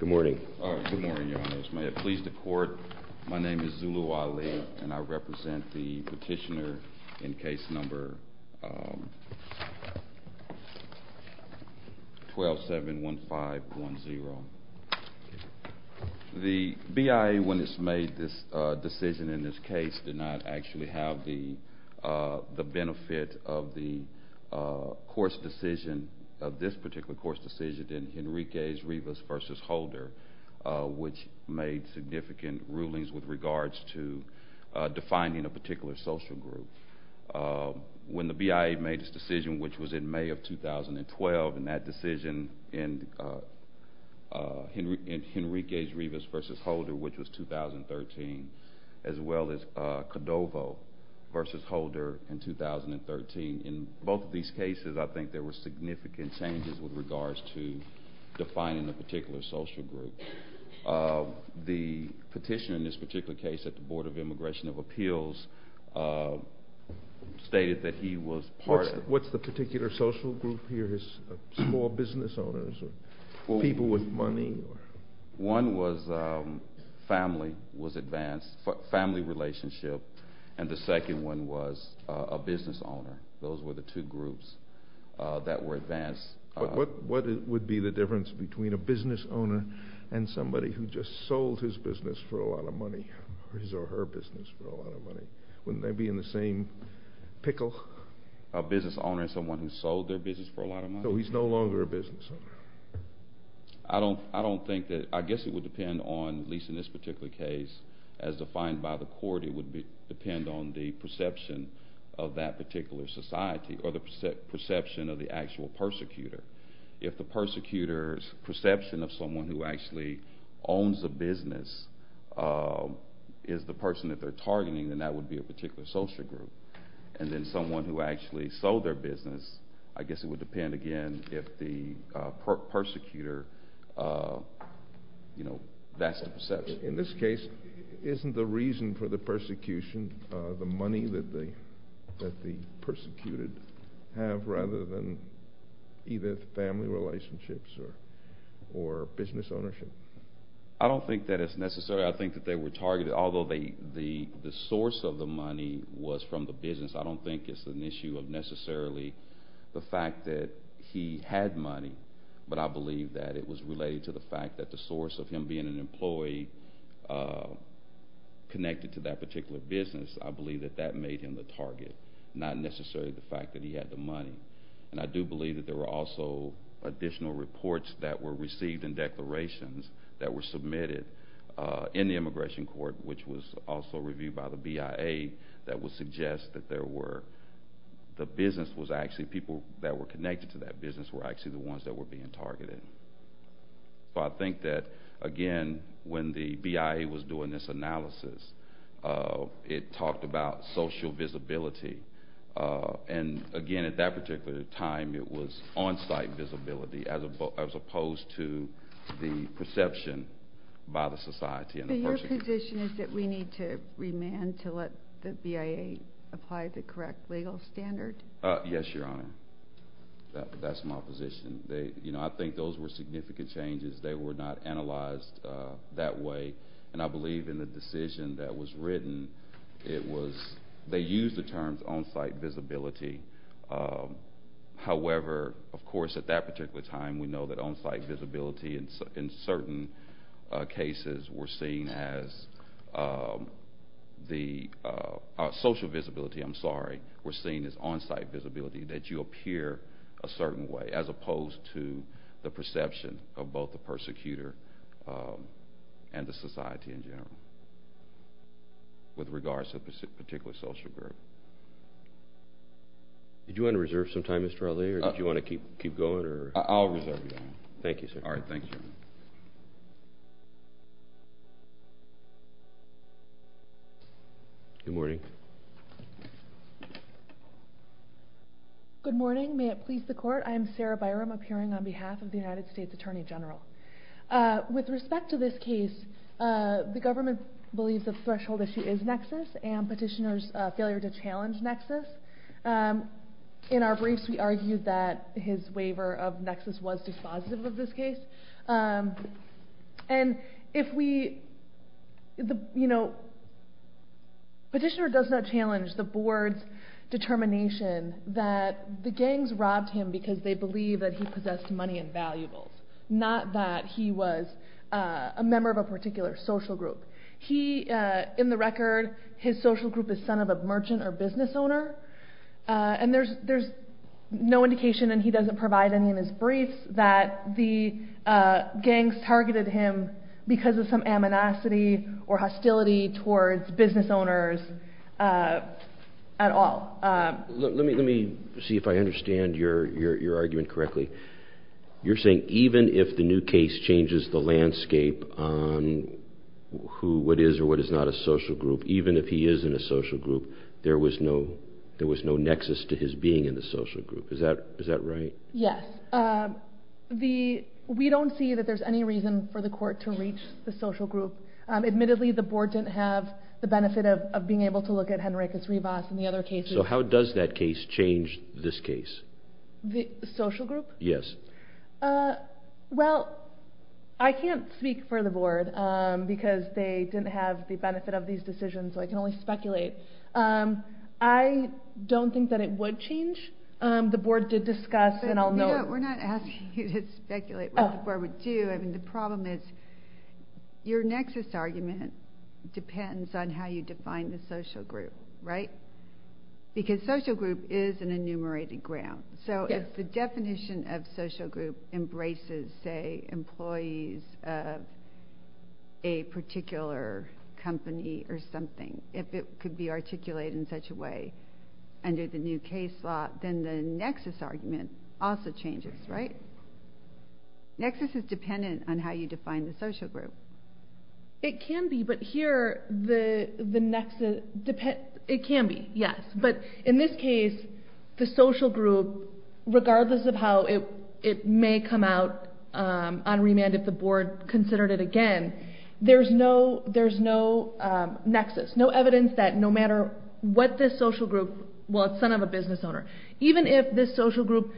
Good morning. My name is Zulu Ali and I represent the petitioner in case number 1271510. The BIA when it's made this decision in this case did not actually have the benefit of the course decision, of this particular course decision, which made significant rulings with regards to defining a particular social group. When the BIA made this decision, which was in May of 2012, and that decision in Henrique's Rivas v. Holder, which was 2013, as well as Cordovo v. Holder in 2013, in both of these cases I think there were significant changes with regards to defining a particular social group. The petitioner in this particular case at the Board of Immigration of Appeals stated that he was part of… What's the particular social group here? Small business owners or people with money? One was family, was advanced, family relationship, and the second one was a business owner. Those were the two groups that were advanced. What would be the difference between a business owner and somebody who just sold his business for a lot of money, or his or her business for a lot of money? Wouldn't they be in the same pickle? A business owner and someone who sold their business for a lot of money? So he's no longer a business owner. I guess it would depend on, at least in this particular case, as defined by the court, it would depend on the perception of that particular society or the perception of the actual persecutor. If the persecutor's perception of someone who actually owns a business is the person that they're targeting, then that would be a particular social group. And then someone who actually sold their business, I guess it would depend, again, if the persecutor, you know, that's the perception. In this case, isn't the reason for the persecution the money that the persecuted have rather than either family relationships or business ownership? I don't think that it's necessary. I think that they were targeted, although the source of the money was from the business. I don't think it's an issue of necessarily the fact that he had money, but I believe that it was related to the fact that the source of him being an employee connected to that particular business, I believe that that made him the target, not necessarily the fact that he had the money. And I do believe that there were also additional reports that were received in declarations that were submitted in the immigration court, which was also reviewed by the BIA, that would suggest that there were, the business was actually, people that were connected to that business were actually the ones that were being targeted. So I think that, again, when the BIA was doing this analysis, it talked about social visibility, and again, at that particular time, it was on-site visibility as opposed to the perception by the society. So your position is that we need to remand to let the BIA apply the correct legal standard? Yes, Your Honor. That's my position. I think those were significant changes. They were not analyzed that way, and I believe in the decision that was written, it was, they used the terms on-site visibility. However, of course, at that particular time, we know that on-site visibility in certain cases were seen as, social visibility, I'm sorry, were seen as on-site visibility, that you appear a certain way, as opposed to the perception of both the persecutor and the society in general, with regards to a particular social group. Did you want to reserve some time, Mr. Allee, or did you want to keep going? I'll reserve your time. Thank you, sir. All right, thank you. Good morning. Good morning. May it please the court, I am Sarah Byram, appearing on behalf of the United States Attorney General. With respect to this case, the government believes the threshold issue is nexus, and petitioner's failure to challenge nexus. In our briefs, we argued that his waiver of nexus was dispositive of this case. And if we, you know, petitioner does not challenge the board's determination that the gangs robbed him because they believe that he possessed money and valuables, not that he was a member of a particular social group. He, in the record, his social group is son of a merchant or business owner. And there's no indication, and he doesn't provide any in his briefs, that the gangs targeted him because of some amnesty or hostility towards business owners at all. Let me see if I understand your argument correctly. You're saying even if the new case changes the landscape on what is or what is not a social group, even if he is in a social group, there was no nexus to his being in the social group. Is that right? Yes. We don't see that there's any reason for the court to reach the social group. Admittedly, the board didn't have the benefit of being able to look at Henricus Rivas and the other cases. So how does that case change this case? The social group? Yes. Well, I can't speak for the board because they didn't have the benefit of these decisions, so I can only speculate. I don't think that it would change. The board did discuss, and I'll note. We're not asking you to speculate what the board would do. I mean, the problem is your nexus argument depends on how you define the social group, right? Because social group is an enumerated ground. So if the definition of social group embraces, say, employees of a particular company or something, if it could be articulated in such a way under the new case law, then the nexus argument also changes, right? Nexus is dependent on how you define the social group. It can be, but here the nexus depends. It can be, yes. But in this case, the social group, regardless of how it may come out on remand if the board considered it again, there's no nexus, no evidence that no matter what this social group, well, it's the son of a business owner, even if this social group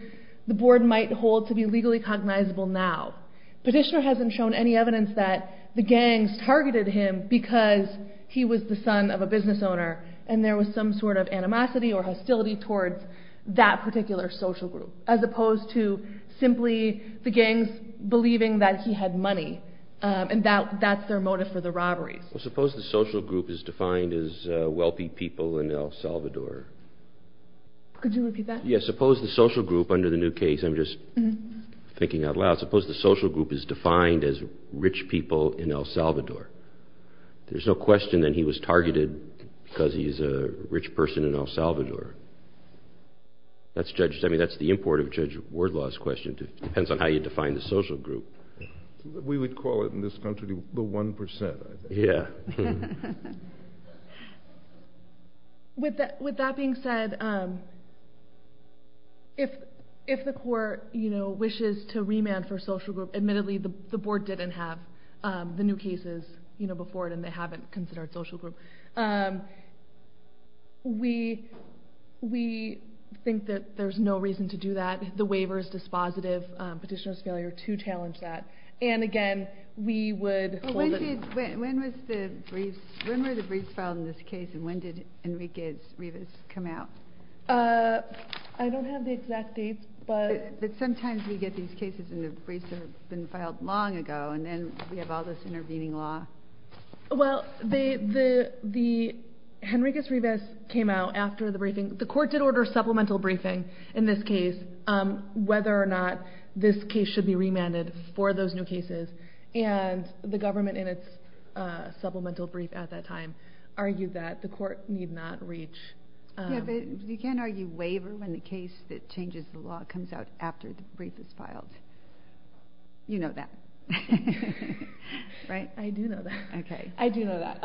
the board might hold to be legally cognizable now, Petitioner hasn't shown any evidence that the gangs targeted him because he was the son of a business owner and there was some sort of animosity or hostility towards that particular social group, as opposed to simply the gangs believing that he had money and that's their motive for the robberies. Well, suppose the social group is defined as wealthy people in El Salvador. Could you repeat that? Yes, suppose the social group under the new case, I'm just thinking out loud, suppose the social group is defined as rich people in El Salvador. There's no question that he was targeted because he's a rich person in El Salvador. That's the import of Judge Wardlaw's question. It depends on how you define the social group. We would call it in this country the 1%, I think. Yeah. With that being said, if the court wishes to remand for social group, admittedly the board didn't have the new cases before it and they haven't considered social group. We think that there's no reason to do that. We don't want the waiver's dispositive petitioner's failure to challenge that. Again, we would hold it. When were the briefs filed in this case and when did Henriquez-Rivas come out? I don't have the exact dates. But sometimes we get these cases and the briefs have been filed long ago and then we have all this intervening law. Well, Henriquez-Rivas came out after the briefing. The court did order supplemental briefing in this case, whether or not this case should be remanded for those new cases, and the government in its supplemental brief at that time argued that the court need not reach. Yeah, but you can't argue waiver when the case that changes the law comes out after the brief is filed. You know that, right? I do know that.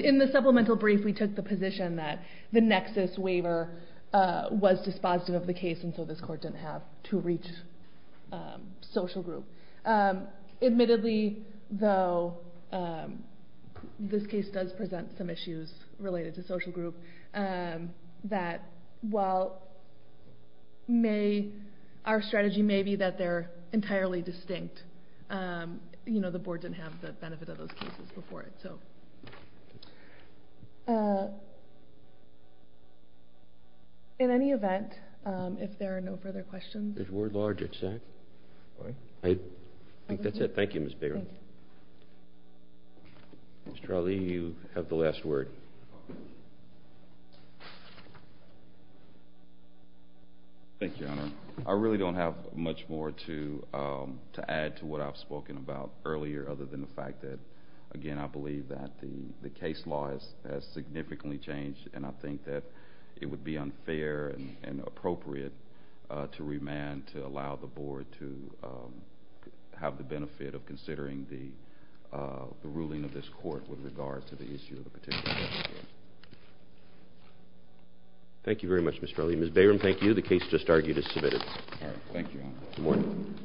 In the supplemental brief, we took the position that the nexus waiver was dispositive of the case and so this court didn't have to reach social group. Admittedly, though, this case does present some issues related to social group, that while our strategy may be that they're entirely distinct, you know, the board didn't have the benefit of those cases before it. In any event, if there are no further questions. There's word large at SAC. I think that's it. Thank you, Ms. Bayron. Mr. Ali, you have the last word. Thank you, Your Honor. I really don't have much more to add to what I've spoken about earlier other than the fact that, again, I believe that the case law has significantly changed, and I think that it would be unfair and appropriate to remand to allow the board to have the benefit of considering the ruling of this court with regards to the issue of the particular case. Thank you very much, Mr. Ali. Ms. Bayron, thank you. The case just argued is submitted. All right. Thank you, Your Honor. Good morning.